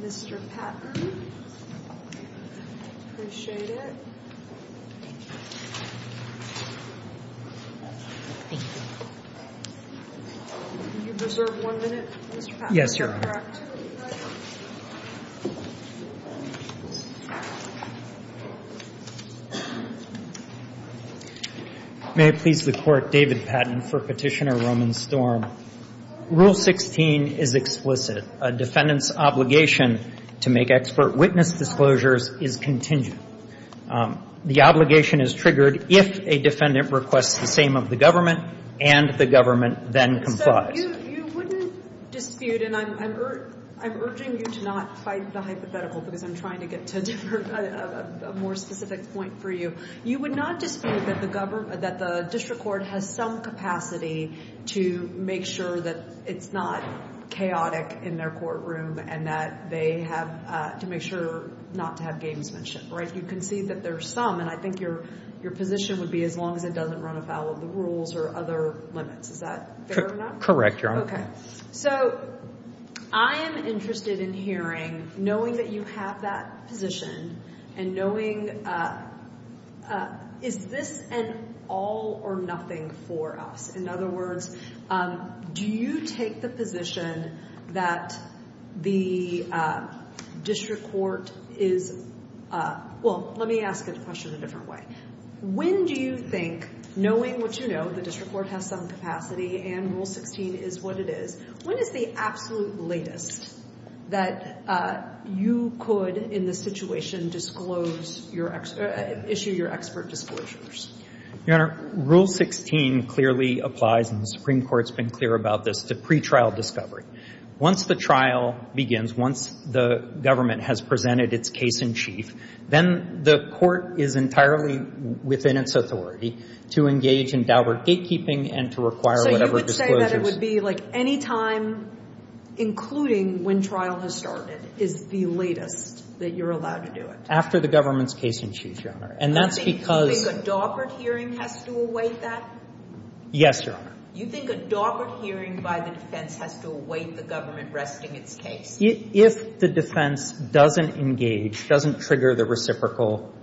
Mr. Patton, I appreciate it. Can you reserve one minute, Mr. Patton? Yes, Your Honor. May it please the Court, David Patton for Petitioner Roman Storm. Rule 16 is explicit. A defendant's obligation to make expert witness disclosures is contingent. The obligation is triggered if a defendant requests the same of the government and the government then complies. So you wouldn't dispute, and I'm urging you to not fight the hypothetical because I'm trying to get to a more specific point for you. You would not dispute that the district court has some capacity to make sure that it's not chaotic in their courtroom and that they have to make sure not to have games mentioned, right? You can see that there are some, and I think your position would be as long as it doesn't run afoul of the rules or other limits. Is that fair or not? Correct, Your Honor. Okay. So I am interested in hearing, knowing that you have that position and knowing is this an all or nothing for us? In other words, do you take the position that the district court is – well, let me ask the question a different way. When do you think, knowing what you know, the district court has some capacity and Rule 16 is what it is, when is the absolute latest that you could, in this situation, issue your expert disclosures? Your Honor, Rule 16 clearly applies, and the Supreme Court has been clear about this, to pretrial discovery. Once the trial begins, once the government has presented its case in chief, then the court is entirely within its authority to engage in Daubert gatekeeping and to require whatever disclosures – So you would say that it would be like any time, including when trial has started, is the latest that you're allowed to do it? After the government's case in chief, Your Honor, and that's because – You think a Daubert hearing has to await that? Yes, Your Honor. You think a Daubert hearing by the defense has to await the government resting its case? If the defense doesn't engage, doesn't trigger the reciprocal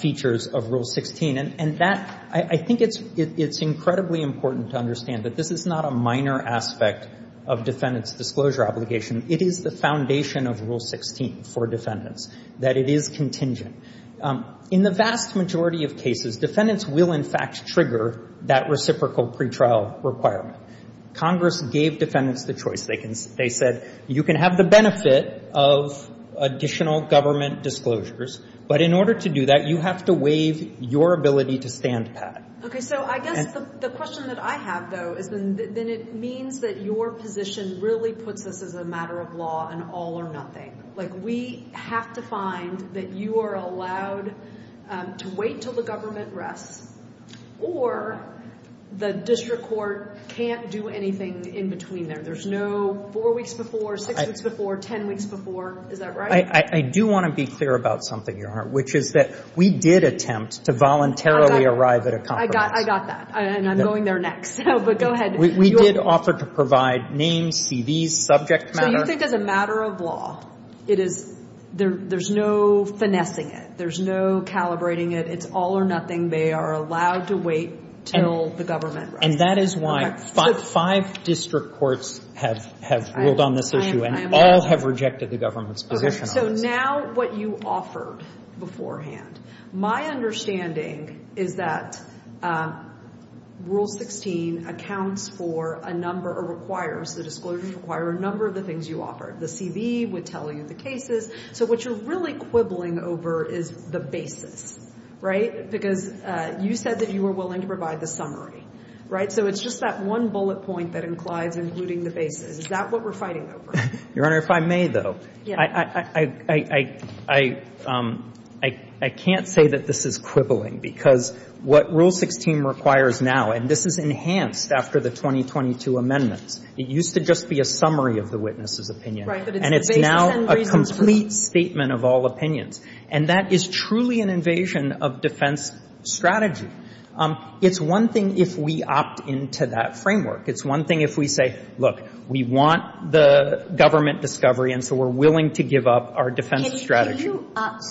features of Rule 16, and that – I think it's incredibly important to understand that this is not a minor aspect of defendant's disclosure obligation. It is the foundation of Rule 16 for defendants, that it is contingent. In the vast majority of cases, defendants will, in fact, trigger that reciprocal pretrial requirement. Congress gave defendants the choice. They said you can have the benefit of additional government disclosures, but in order to do that, you have to waive your ability to stand pat. Okay. So I guess the question that I have, though, is then it means that your position really puts us as a matter of law and all or nothing. Like we have to find that you are allowed to wait until the government rests or the district court can't do anything in between there. There's no four weeks before, six weeks before, ten weeks before. Is that right? I do want to be clear about something, Your Honor, which is that we did attempt to voluntarily arrive at a compromise. I got that. And I'm going there next. But go ahead. We did offer to provide names, CVs, subject matter. So you think as a matter of law, it is – there's no finessing it. There's no calibrating it. It's all or nothing. They are allowed to wait until the government rests. And that is why five district courts have ruled on this issue and all have rejected the government's position on this. So now what you offered beforehand, my understanding is that Rule 16 accounts for a number or requires, the disclosures require a number of the things you offered. The CV would tell you the cases. So what you're really quibbling over is the basis, right? Because you said that you were willing to provide the summary, right? So it's just that one bullet point that inclines including the basis. Is that what we're fighting over? Your Honor, if I may, though, I can't say that this is quibbling because what Rule 16 requires now, and this is enhanced after the 2022 amendments. It used to just be a summary of the witness's opinion. Right. But it's the basis and reason for it. And it's now a complete statement of all opinions. And that is truly an invasion of defense strategy. It's one thing if we opt into that framework. It's one thing if we say, look, we want the government discovery, and so we're willing to give up our defense strategy.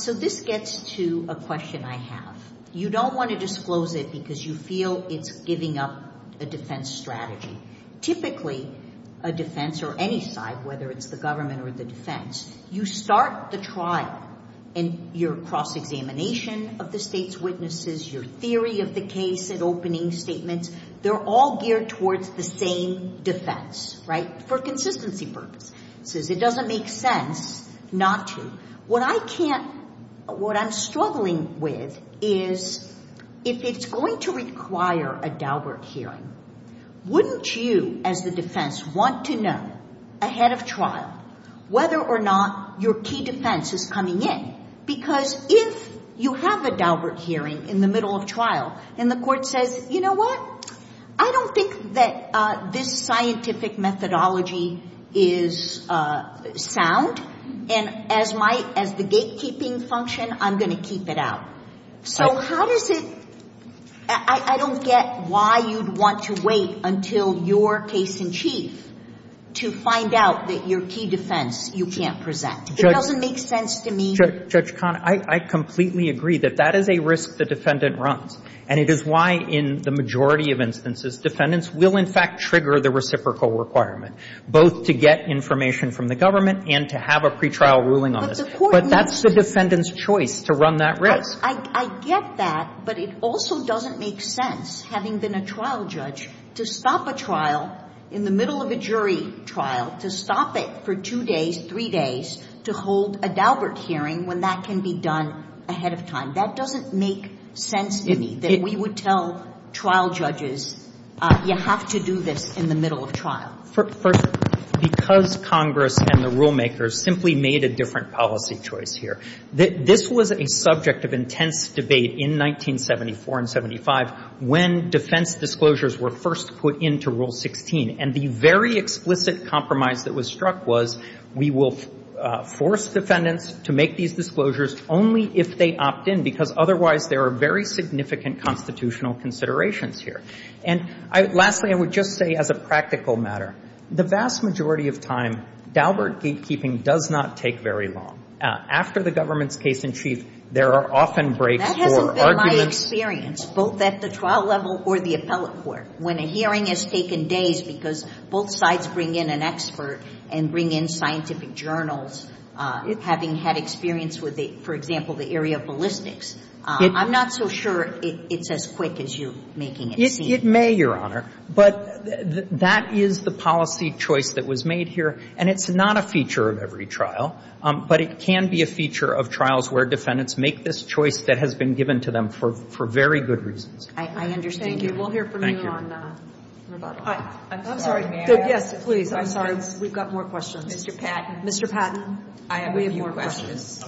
So this gets to a question I have. You don't want to disclose it because you feel it's giving up a defense strategy. Typically, a defense or any side, whether it's the government or the defense, you start the trial and your cross-examination of the state's witnesses, your theory of the case and opening statements, they're all geared towards the same defense, right, for consistency purposes. It doesn't make sense not to. What I can't – what I'm struggling with is if it's going to require a Daubert hearing, wouldn't you, as the defense, want to know, ahead of trial, whether or not your key defense is coming in? Because if you have a Daubert hearing in the middle of trial and the court says, you know what, I don't think that this scientific methodology is sound, and as the gatekeeping function, I'm going to keep it out. So how does it – I don't get why you'd want to wait until your case in chief to find out that your key defense you can't present. It doesn't make sense to me. Judge Conant, I completely agree that that is a risk the defendant runs, and it is why in the majority of instances defendants will, in fact, trigger the reciprocal requirement, both to get information from the government and to have a pretrial ruling on this. But the court needs to – But that's the defendant's choice to run that risk. I get that, but it also doesn't make sense, having been a trial judge, to stop a trial in the middle of a jury trial, to stop it for two days, three days, to hold a Daubert hearing when that can be done ahead of time. That doesn't make sense to me, that we would tell trial judges, you have to do this in the middle of trial. First, because Congress and the rulemakers simply made a different policy choice here, that this was a subject of intense debate in 1974 and 75 when defense disclosures were first put into Rule 16. And the very explicit compromise that was struck was we will force defendants to make these disclosures only if they opt in, because otherwise there are very significant constitutional considerations here. And lastly, I would just say as a practical matter, the vast majority of time Daubert gatekeeping does not take very long. After the government's case in chief, there are often breaks for arguments. That hasn't been my experience, both at the trial level or the appellate court, when a hearing has taken days because both sides bring in an expert and bring in scientific journals, having had experience with, for example, the area of ballistics. I'm not so sure it's as quick as you're making it seem. It may, Your Honor. But that is the policy choice that was made here, and it's not a feature of every trial, but it can be a feature of trials where defendants make this choice that has been given to them for very good reasons. Thank you. We'll hear from you on that. I'm sorry. Yes, please. I'm sorry. We've got more questions. Mr. Patton. Mr. Patton, we have more questions.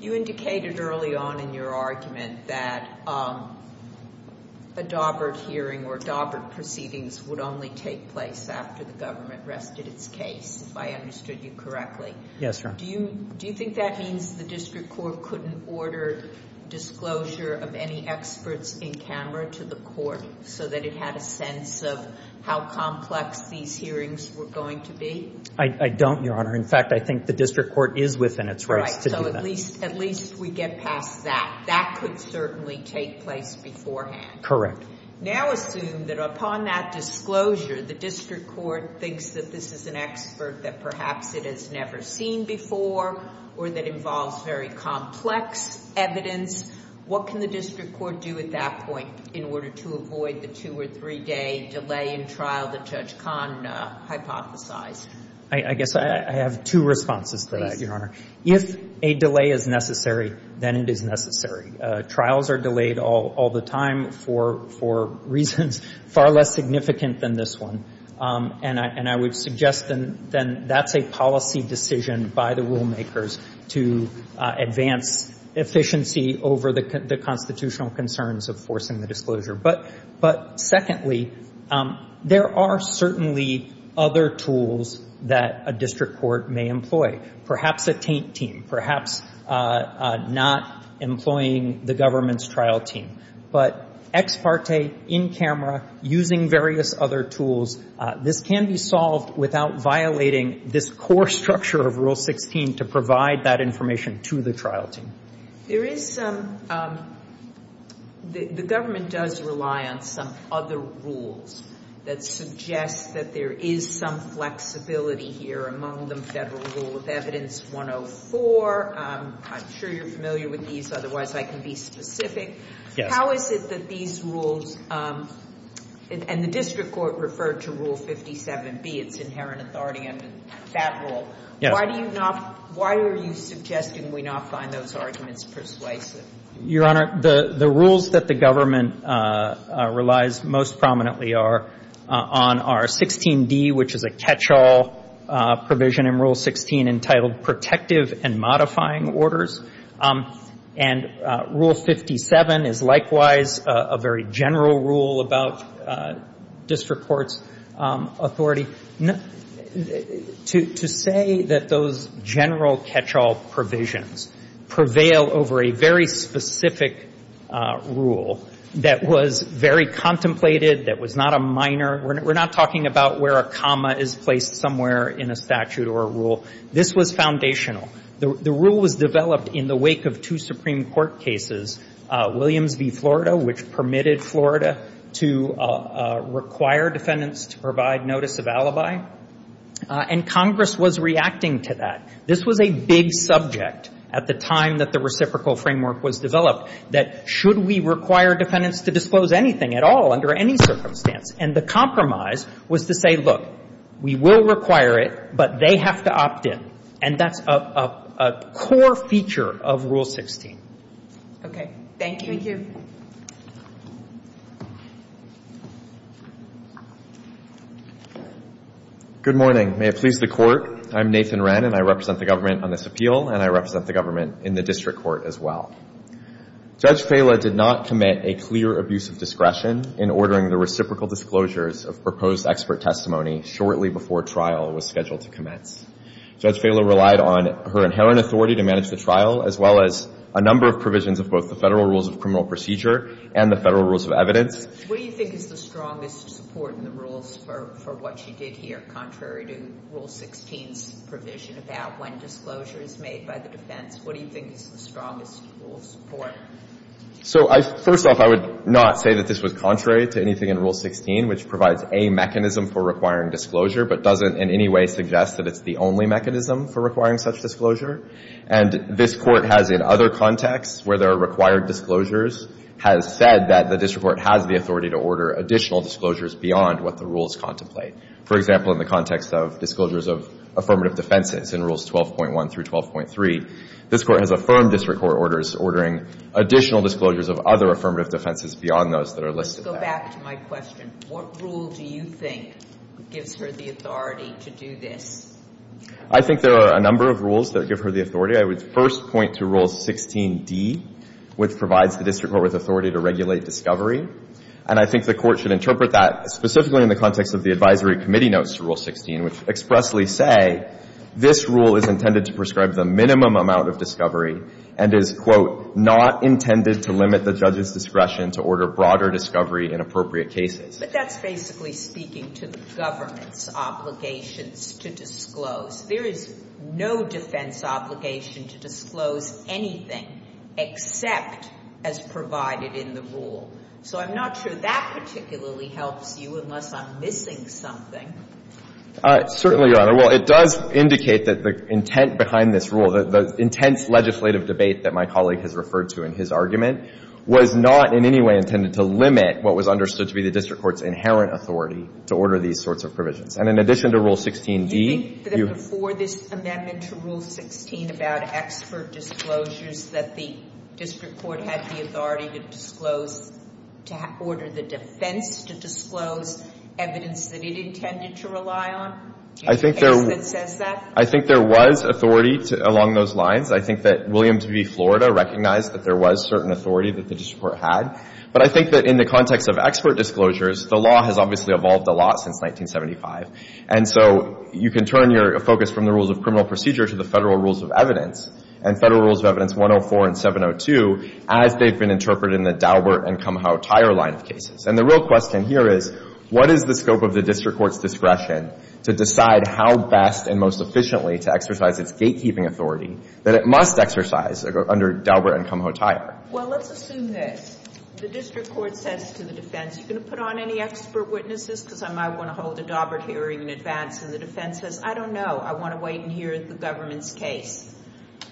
You indicated early on in your argument that a Daubert hearing or Daubert proceedings would only take place after the government rested its case, if I understood you correctly. Yes, Your Honor. Do you think that means the district court couldn't order disclosure of any experts in camera to the court so that it had a sense of how complex these hearings were going to be? I don't, Your Honor. In fact, I think the district court is within its rights to do that. So at least we get past that. That could certainly take place beforehand. Correct. Now assume that upon that disclosure, the district court thinks that this is an expert that perhaps it has never seen before or that involves very complex evidence. What can the district court do at that point in order to avoid the two- or three-day delay in trial that Judge Kahn hypothesized? I guess I have two responses to that, Your Honor. Please. If a delay is necessary, then it is necessary. Trials are delayed all the time for reasons far less significant than this one, and I would suggest then that's a policy decision by the rulemakers to advance efficiency over the constitutional concerns of forcing the disclosure. But secondly, there are certainly other tools that a district court may employ, perhaps a taint team, perhaps not employing the government's trial team. But ex parte, in camera, using various other tools, this can be solved without violating this core structure of Rule 16 to provide that information to the trial team. There is some – the government does rely on some other rules that suggest that there is some flexibility here, among them Federal Rule of Evidence 104. I'm sure you're familiar with these, otherwise I can be specific. Yes. How is it that these rules – and the district court referred to Rule 57B, its inherent authority under that rule. Yes. Why do you not – why are you suggesting we not find those arguments persuasive? Your Honor, the rules that the government relies most prominently are on our 16D, which is a catch-all provision in Rule 16 entitled protective and modifying orders. And Rule 57 is likewise a very general rule about district court's authority. To say that those general catch-all provisions prevail over a very specific rule that was very contemplated, that was not a minor – we're not talking about where a comma is placed somewhere in a statute or a rule. This was foundational. The rule was developed in the wake of two Supreme Court cases, Williams v. Florida, which permitted Florida to require defendants to provide notice of alibi. And Congress was reacting to that. This was a big subject at the time that the reciprocal framework was developed, that should we require defendants to disclose anything at all under any circumstance. And the compromise was to say, look, we will require it, but they have to opt in. And that's a core feature of Rule 16. Okay. Thank you. Thank you. Good morning. May it please the Court. I'm Nathan Wren, and I represent the government on this appeal, and I represent the government in the district court as well. Judge Fela did not commit a clear abuse of discretion in ordering the reciprocal disclosures of proposed expert testimony shortly before trial was scheduled to commence. Judge Fela relied on her inherent authority to manage the trial, as well as a number of provisions of both the Federal Rules of Criminal Procedure and the Federal Rules of Evidence. What do you think is the strongest support in the rules for what she did here, contrary to Rule 16's provision about when disclosure is made by the defense? What do you think is the strongest rule of support? So first off, I would not say that this was contrary to anything in Rule 16, which provides a mechanism for requiring disclosure, but doesn't in any way suggest that it's the only mechanism for requiring such disclosure. And this Court has, in other contexts where there are required disclosures, has said that the district court has the authority to order additional disclosures beyond what the rules contemplate. For example, in the context of disclosures of affirmative defenses in Rules 12.1 through 12.3, this Court has affirmed district court orders ordering additional disclosures of other affirmative defenses beyond those that are listed there. Let's go back to my question. What rule do you think gives her the authority to do this? I think there are a number of rules that give her the authority. I would first point to Rule 16d, which provides the district court with authority to regulate discovery. And I think the Court should interpret that specifically in the context of the advisory committee notes to Rule 16, which expressly say this rule is intended to prescribe the minimum amount of discovery and is, quote, not intended to limit the judge's discretion to order broader discovery in appropriate cases. But that's basically speaking to the government's obligations to disclose. There is no defense obligation to disclose anything except as provided in the rule. So I'm not sure that particularly helps you, unless I'm missing something. Certainly, Your Honor. Well, it does indicate that the intent behind this rule, the intense legislative debate that my colleague has referred to in his argument, was not in any way intended to limit what was understood to be the district court's inherent authority to order these sorts of provisions. And in addition to Rule 16d, you — Do you think that before this amendment to Rule 16 about expert disclosures that the district court had the authority to disclose, to order the defense to disclose evidence that it intended to rely on? Do you think it says that? I think there was authority along those lines. I think that Williams v. Florida recognized that there was certain authority that the district court had. But I think that in the context of expert disclosures, the law has obviously evolved a lot since 1975. And so you can turn your focus from the rules of criminal procedure to the federal rules of evidence and Federal Rules of Evidence 104 and 702 as they've been interpreted in the Daubert and Kumho-Tyre line of cases. And the real question here is, what is the scope of the district court's discretion to decide how best and most efficiently to exercise its gatekeeping authority that it must exercise under Daubert and Kumho-Tyre? Well, let's assume this. The district court says to the defense, are you going to put on any expert witnesses because I might want to hold a Daubert hearing in advance? And the defense says, I don't know. I want to wait and hear the government's case.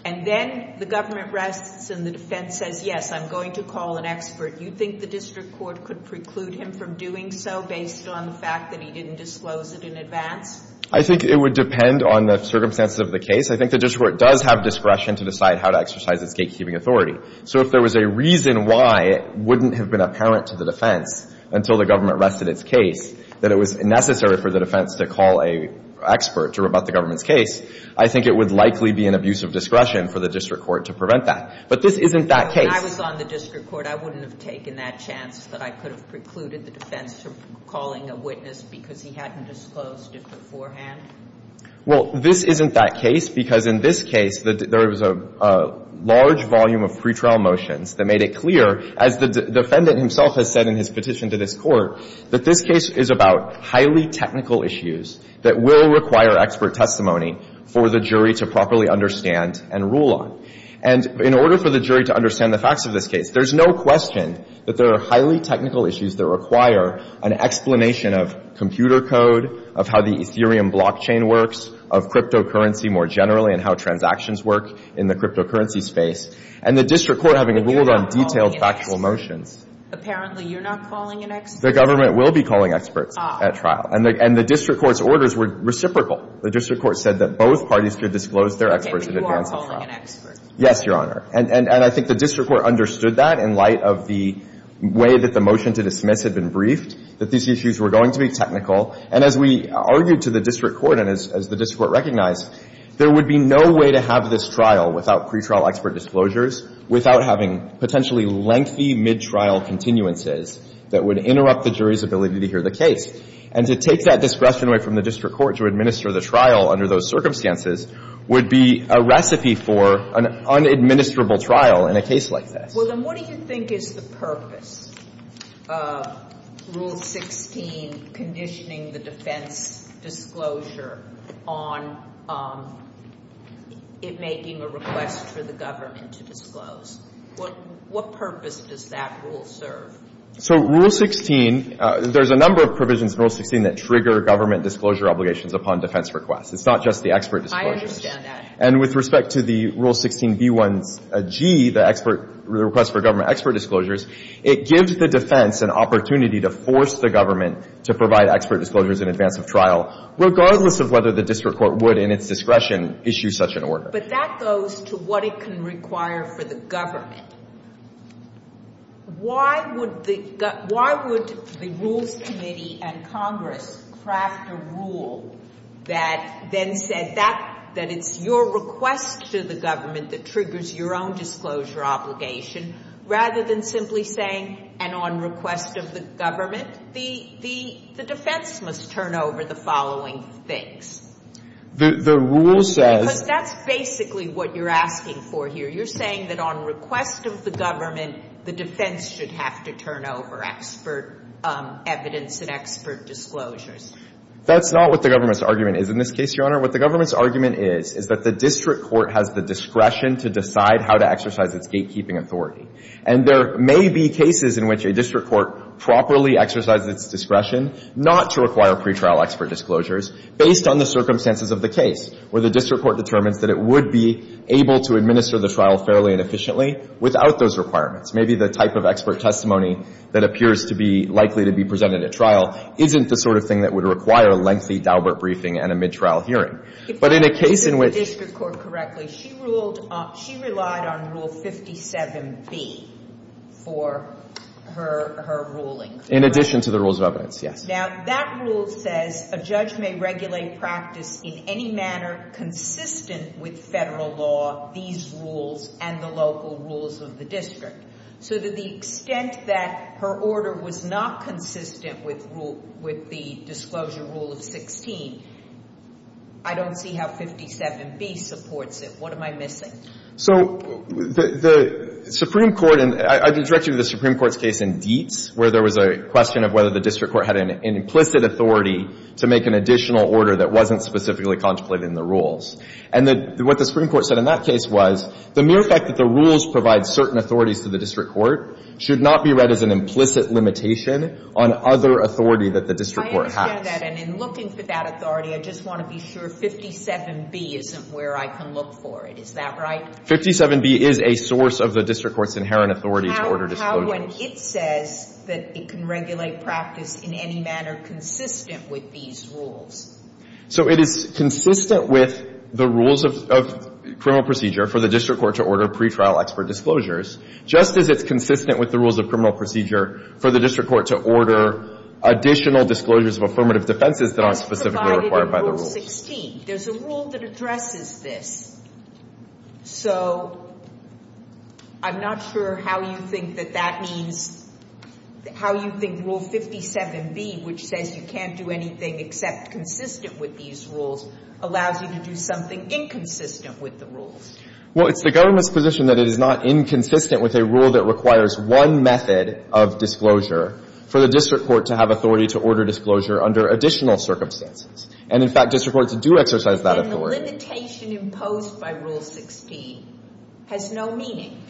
And then the government rests and the defense says, yes, I'm going to call an expert. Do you think the district court could preclude him from doing so based on the fact that he didn't disclose it in advance? I think it would depend on the circumstances of the case. I think the district court does have discretion to decide how to exercise its gatekeeping authority. So if there was a reason why it wouldn't have been apparent to the defense, until the government rested its case, that it was necessary for the defense to call an expert to rebut the government's case, I think it would likely be an abuse of discretion for the district court to prevent that. But this isn't that case. When I was on the district court, I wouldn't have taken that chance that I could have precluded the defense from calling a witness because he hadn't disclosed it beforehand? Well, this isn't that case because in this case, there was a large volume of previous pretrial motions that made it clear, as the defendant himself has said in his petition to this Court, that this case is about highly technical issues that will require expert testimony for the jury to properly understand and rule on. And in order for the jury to understand the facts of this case, there's no question that there are highly technical issues that require an explanation of computer code, of how the Ethereum blockchain works, of cryptocurrency more generally and how transactions work in the cryptocurrency space. And the district court having ruled on detailed factual motions. Apparently, you're not calling an expert? The government will be calling experts at trial. And the district court's orders were reciprocal. The district court said that both parties could disclose their experts in advance of trial. But you are calling an expert. Yes, Your Honor. And I think the district court understood that in light of the way that the motion to dismiss had been briefed, that these issues were going to be technical. And as we argued to the district court and as the district court recognized, there would be no way to have this trial without pretrial expert disclosures, without having potentially lengthy mid-trial continuances that would interrupt the jury's ability to hear the case. And to take that discretion away from the district court to administer the trial under those circumstances would be a recipe for an unadministrable trial in a case like this. Well, then what do you think is the purpose of Rule 16 conditioning the defense disclosure on it making a request for the government to disclose? What purpose does that rule serve? So Rule 16, there's a number of provisions in Rule 16 that trigger government disclosure obligations upon defense requests. It's not just the expert disclosures. I understand that. And with respect to the Rule 16b1g, the request for government expert disclosures, it gives the defense an opportunity to force the government to provide expert disclosures in advance of trial, regardless of whether the district court would in its discretion issue such an order. But that goes to what it can require for the government. Why would the rules committee and Congress craft a rule that then said that it's your request to the government that triggers your own disclosure obligation rather than simply saying, and on request of the government, the defense must turn over the following things? The rule says — Because that's basically what you're asking for here. You're saying that on request of the government, the defense should have to turn over expert evidence and expert disclosures. That's not what the government's argument is in this case, Your Honor. What the government's argument is, is that the district court has the discretion to decide how to exercise its gatekeeping authority. And there may be cases in which a district court properly exercises its discretion not to require pretrial expert disclosures based on the circumstances of the case where the district court determines that it would be able to administer the trial fairly and efficiently without those requirements. Maybe the type of expert testimony that appears to be likely to be presented at trial isn't the sort of thing that would require a lengthy Daubert briefing and a mid-trial hearing. But in a case in which — If I understood the district court correctly, she ruled — she relied on Rule 57B for her ruling, correct? In addition to the rules of evidence, yes. Now, that rule says a judge may regulate practice in any manner consistent with Federal law, these rules, and the local rules of the district. So to the extent that her order was not consistent with rule — with the disclosure rule of 16, I don't see how 57B supports it. What am I missing? So the Supreme Court — and I can direct you to the Supreme Court's case in Dietz, where there was a question of whether the district court had an implicit authority to make an additional order that wasn't specifically contemplated in the rules. And what the Supreme Court said in that case was, the mere fact that the rules provide certain authorities to the district court should not be read as an implicit limitation on other authority that the district court has. I understand that. And in looking for that authority, I just want to be sure 57B isn't where I can look for it. Is that right? 57B is a source of the district court's inherent authority to order disclosures. How would it say that it can regulate practice in any manner consistent with these rules? So it is consistent with the rules of criminal procedure for the district court to order pre-trial expert disclosures, just as it's consistent with the rules of criminal procedure for the district court to order additional disclosures of affirmative defenses that aren't specifically required by the rules. It's provided in Rule 16. There's a rule that addresses this. So I'm not sure how you think that that means — how you think Rule 57B, which says you can't do anything except consistent with these rules, allows you to do something inconsistent with the rules. Well, it's the government's position that it is not inconsistent with a rule that requires one method of disclosure for the district court to have authority to order disclosure under additional circumstances. And, in fact, district courts do exercise that authority. Then the limitation imposed by Rule 16 has no meaning.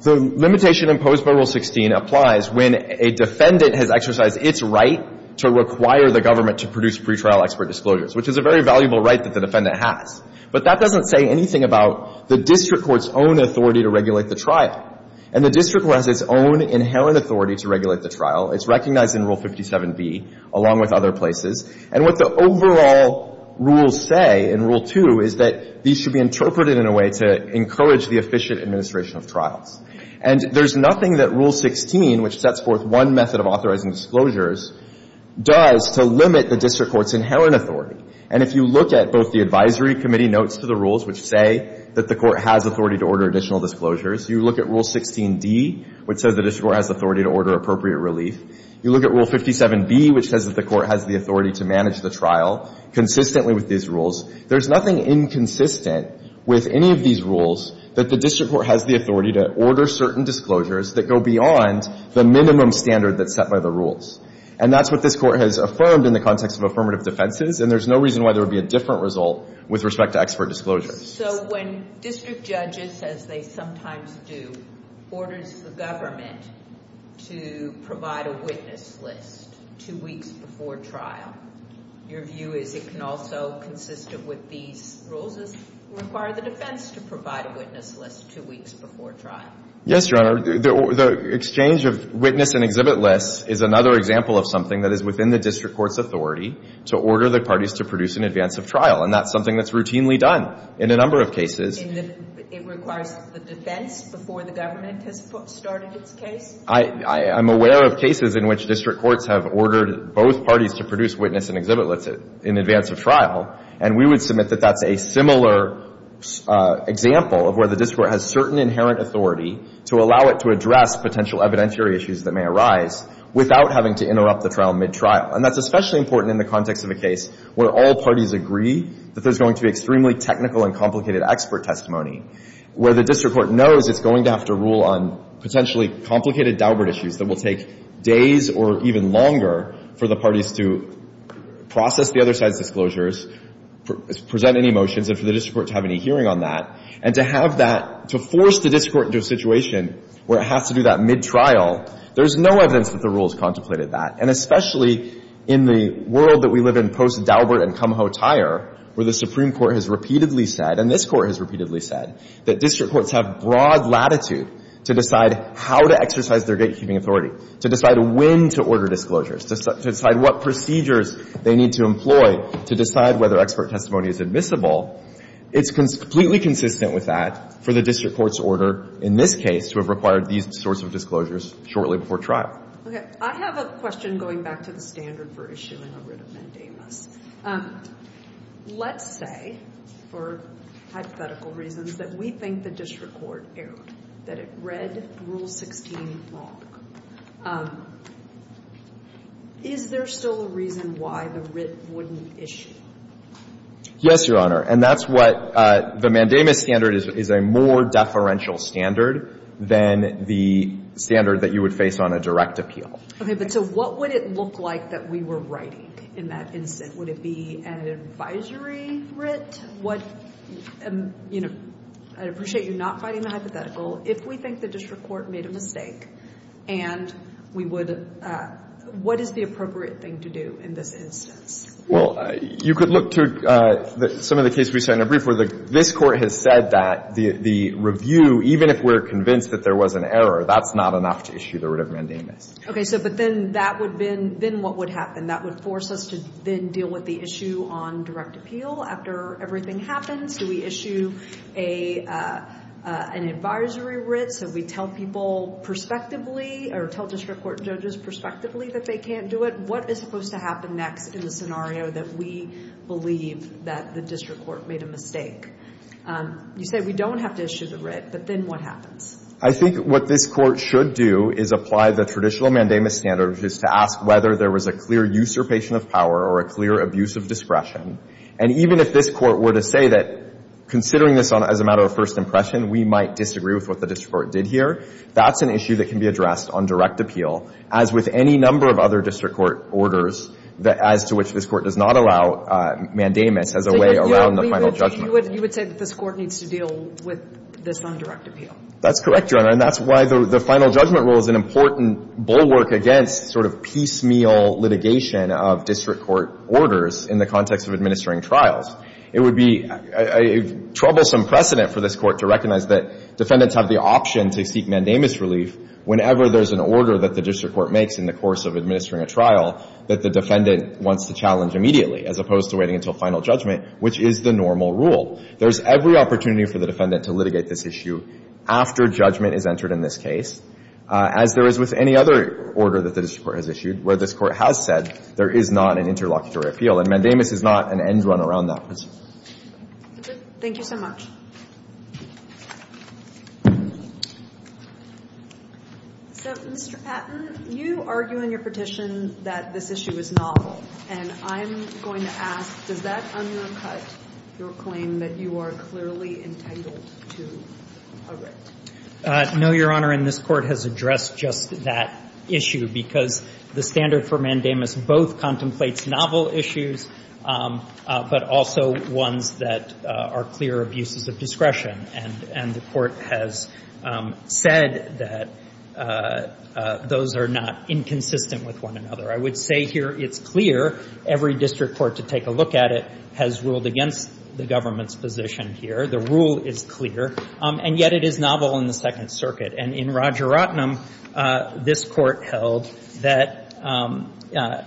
The limitation imposed by Rule 16 applies when a defendant has exercised its right to require the government to produce pre-trial expert disclosures, which is a very valuable right that the defendant has. But that doesn't say anything about the district court's own authority to regulate the trial. And the district court has its own inherent authority to regulate the trial. It's recognized in Rule 57B, along with other places. And what the overall rules say in Rule 2 is that these should be interpreted in a way to encourage the efficient administration of trials. And there's nothing that Rule 16, which sets forth one method of authorizing disclosures, does to limit the district court's inherent authority. And if you look at both the advisory committee notes to the rules, which say that the court has authority to order additional disclosures, you look at Rule 16D, which says the district court has authority to order appropriate relief. You look at Rule 57B, which says that the court has the authority to manage the trial consistently with these rules. There's nothing inconsistent with any of these rules that the district court has the authority to order certain disclosures that go beyond the minimum standard that's set by the rules. And that's what this Court has affirmed in the context of affirmative defenses. And there's no reason why there would be a different result with respect to expert disclosures. So when district judges, as they sometimes do, orders the government to provide a witness list two weeks before trial, your view is it can also, consistent with these rules, require the defense to provide a witness list two weeks before trial? Yes, Your Honor. The exchange of witness and exhibit lists is another example of something that is routinely done in a number of cases. It requires the defense before the government has started its case? I'm aware of cases in which district courts have ordered both parties to produce witness and exhibit lists in advance of trial, and we would submit that that's a similar example of where the district court has certain inherent authority to allow it to address potential evidentiary issues that may arise without having to interrupt the trial mid-trial. And that's especially important in the context of a case where all parties agree that there's going to be extremely technical and complicated expert testimony, where the district court knows it's going to have to rule on potentially complicated doubler issues that will take days or even longer for the parties to process the other side's disclosures, present any motions, and for the district court to have any hearing on that. And to have that — to force the district court into a situation where it has to do that mid-trial, there's no evidence that the rules contemplated that. And especially in the world that we live in post-Daubert and Kumho Tire, where the Supreme Court has repeatedly said, and this Court has repeatedly said, that district courts have broad latitude to decide how to exercise their gatekeeping authority, to decide when to order disclosures, to decide what procedures they need to employ to decide whether expert testimony is admissible, it's completely consistent with that for the district court's order in this case to have required these sorts of disclosures shortly before trial. Okay. I have a question going back to the standard for issuing a writ of mandamus. Let's say, for hypothetical reasons, that we think the district court erred, that it read Rule 16 wrong. Is there still a reason why the writ wouldn't issue? Yes, Your Honor. And that's what the mandamus standard is a more deferential standard than the standard that you would face on a direct appeal. But so what would it look like that we were writing in that instance? Would it be an advisory writ? What, you know, I appreciate you not fighting the hypothetical. If we think the district court made a mistake and we would, what is the appropriate thing to do in this instance? Well, you could look to some of the cases we've seen in a brief where this Court has said that the review, even if we're convinced that there was an error, that's not enough to issue the writ of mandamus. Okay. So but then that would then what would happen? That would force us to then deal with the issue on direct appeal after everything happens? Do we issue an advisory writ so we tell people prospectively or tell district court judges prospectively that they can't do it? What is supposed to happen next in the scenario that we believe that the district court made a mistake? You said we don't have to issue the writ, but then what happens? I think what this Court should do is apply the traditional mandamus standard, which is to ask whether there was a clear usurpation of power or a clear abuse of discretion. And even if this Court were to say that considering this as a matter of first impression, we might disagree with what the district court did here, that's an issue that can be addressed on direct appeal. As with any number of other district court orders as to which this Court does not allow mandamus as a way around the final judgment. You would say that this Court needs to deal with this on direct appeal. That's correct, Your Honor. And that's why the final judgment rule is an important bulwark against sort of piecemeal litigation of district court orders in the context of administering trials. It would be a troublesome precedent for this Court to recognize that defendants have the option to seek mandamus relief whenever there's an order that the district court makes in the course of administering a trial that the defendant wants to challenge immediately, as opposed to waiting until final judgment, which is the normal rule. There's every opportunity for the defendant to litigate this issue after judgment is entered in this case, as there is with any other order that the district court has issued where this Court has said there is not an interlocutory appeal. And mandamus is not an end run around that. Thank you so much. So, Mr. Patton, you argue in your petition that this issue is novel. And I'm going to ask, does that undercut your claim that you are clearly entangled to a writ? No, Your Honor, and this Court has addressed just that issue, because the standard for mandamus both contemplates novel issues, but also ones that are clear abuses of discretion. And the Court has said that those are not inconsistent with one another. I would say here it's clear. Every district court to take a look at it has ruled against the government's position here. The rule is clear. And yet it is novel in the Second Circuit. And in Roger Rottenham, this Court held that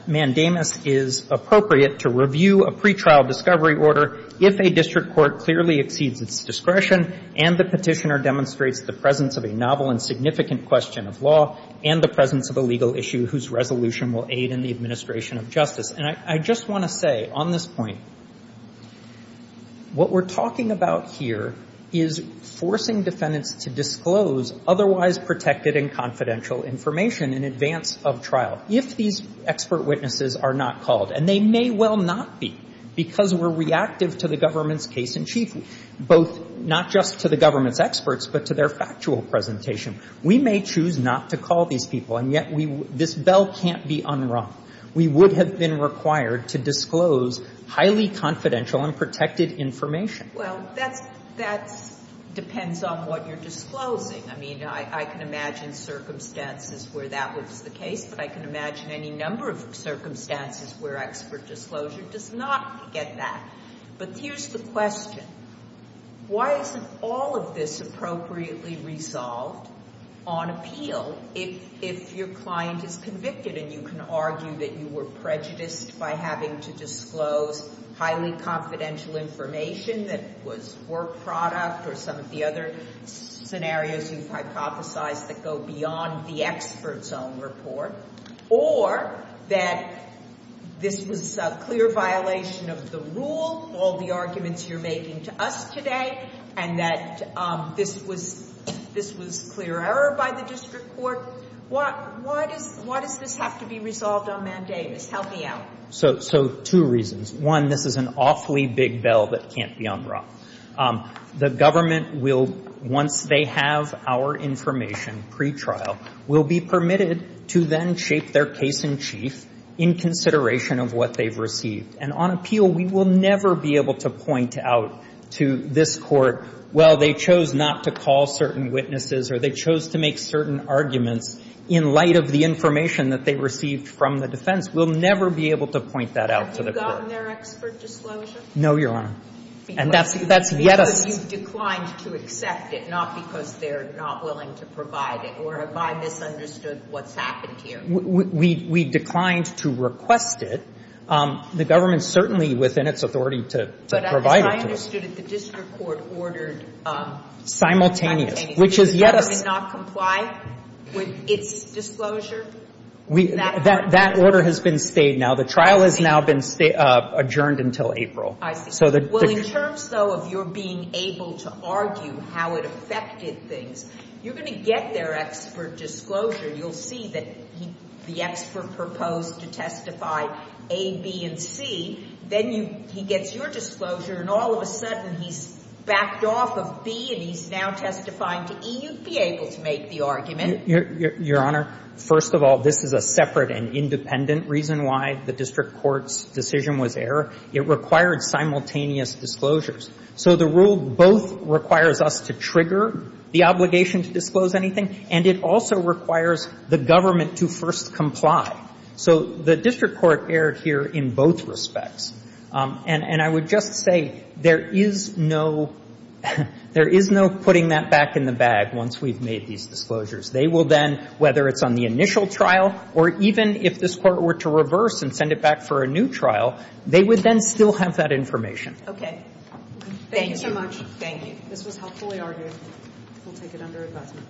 mandamus is appropriate to review a pretrial discovery order if a district court clearly exceeds its discretion and the petitioner demonstrates the presence of a novel and significant question of law and the presence of a legal issue whose resolution will aid in the administration of justice. And I just want to say on this point, what we're talking about here is forcing defendants to disclose otherwise protected and confidential information in advance of trial if these expert witnesses are not called. And they may well not be, because we're reactive to the government's case in chief, both not just to the government's experts, but to their factual presentation. We may choose not to call these people, and yet we — this bell can't be unrung. We would have been required to disclose highly confidential and protected information. Well, that's — that depends on what you're disclosing. I mean, I can imagine circumstances where that was the case, but I can imagine any number of circumstances where expert disclosure does not get that. But here's the question. Why isn't all of this appropriately resolved on appeal if your client is convicted and you can argue that you were prejudiced by having to disclose highly confidential information that was work product or some of the other scenarios you've hypothesized that go beyond the expert's own report, or that this was a clear violation of the rule, all the arguments you're making to us today, and that this was clear error by the district court? Why does this have to be resolved on mandamus? Help me out. So two reasons. One, this is an awfully big bell that can't be unrung. The government will, once they have our information pretrial, will be permitted to then shape their case in chief in consideration of what they've received. And on appeal, we will never be able to point out to this Court, well, they chose not to call certain witnesses or they chose to make certain arguments in light of the information that they received from the defense. We'll never be able to point that out to the Court. Have you gotten their expert disclosure? No, Your Honor. And that's yet a step. Because you declined to accept it, not because they're not willing to provide it, or have I misunderstood what's happened here? We declined to request it. The government is certainly within its authority to provide it to us. But as I understood it, the district court ordered simultaneously. Does the government not comply with its disclosure? That order has been stayed now. The trial has now been adjourned until April. I see. Well, in terms, though, of your being able to argue how it affected things, you're going to get their expert disclosure. You'll see that the expert proposed to testify A, B, and C. Then he gets your disclosure, and all of a sudden he's backed off of B and he's now testifying to E. You'd be able to make the argument. Your Honor, first of all, this is a separate and independent reason why the district court's decision was error. It required simultaneous disclosures. So the rule both requires us to trigger the obligation to disclose anything, and it also requires the government to first comply. So the district court erred here in both respects. And I would just say there is no putting that back in the bag once we've made these disclosures. They will then, whether it's on the initial trial or even if this Court were to reverse and send it back for a new trial, they would then still have that information. Okay. Thank you. Thank you so much. Thank you. This was helpfully argued. We'll take it under advisement.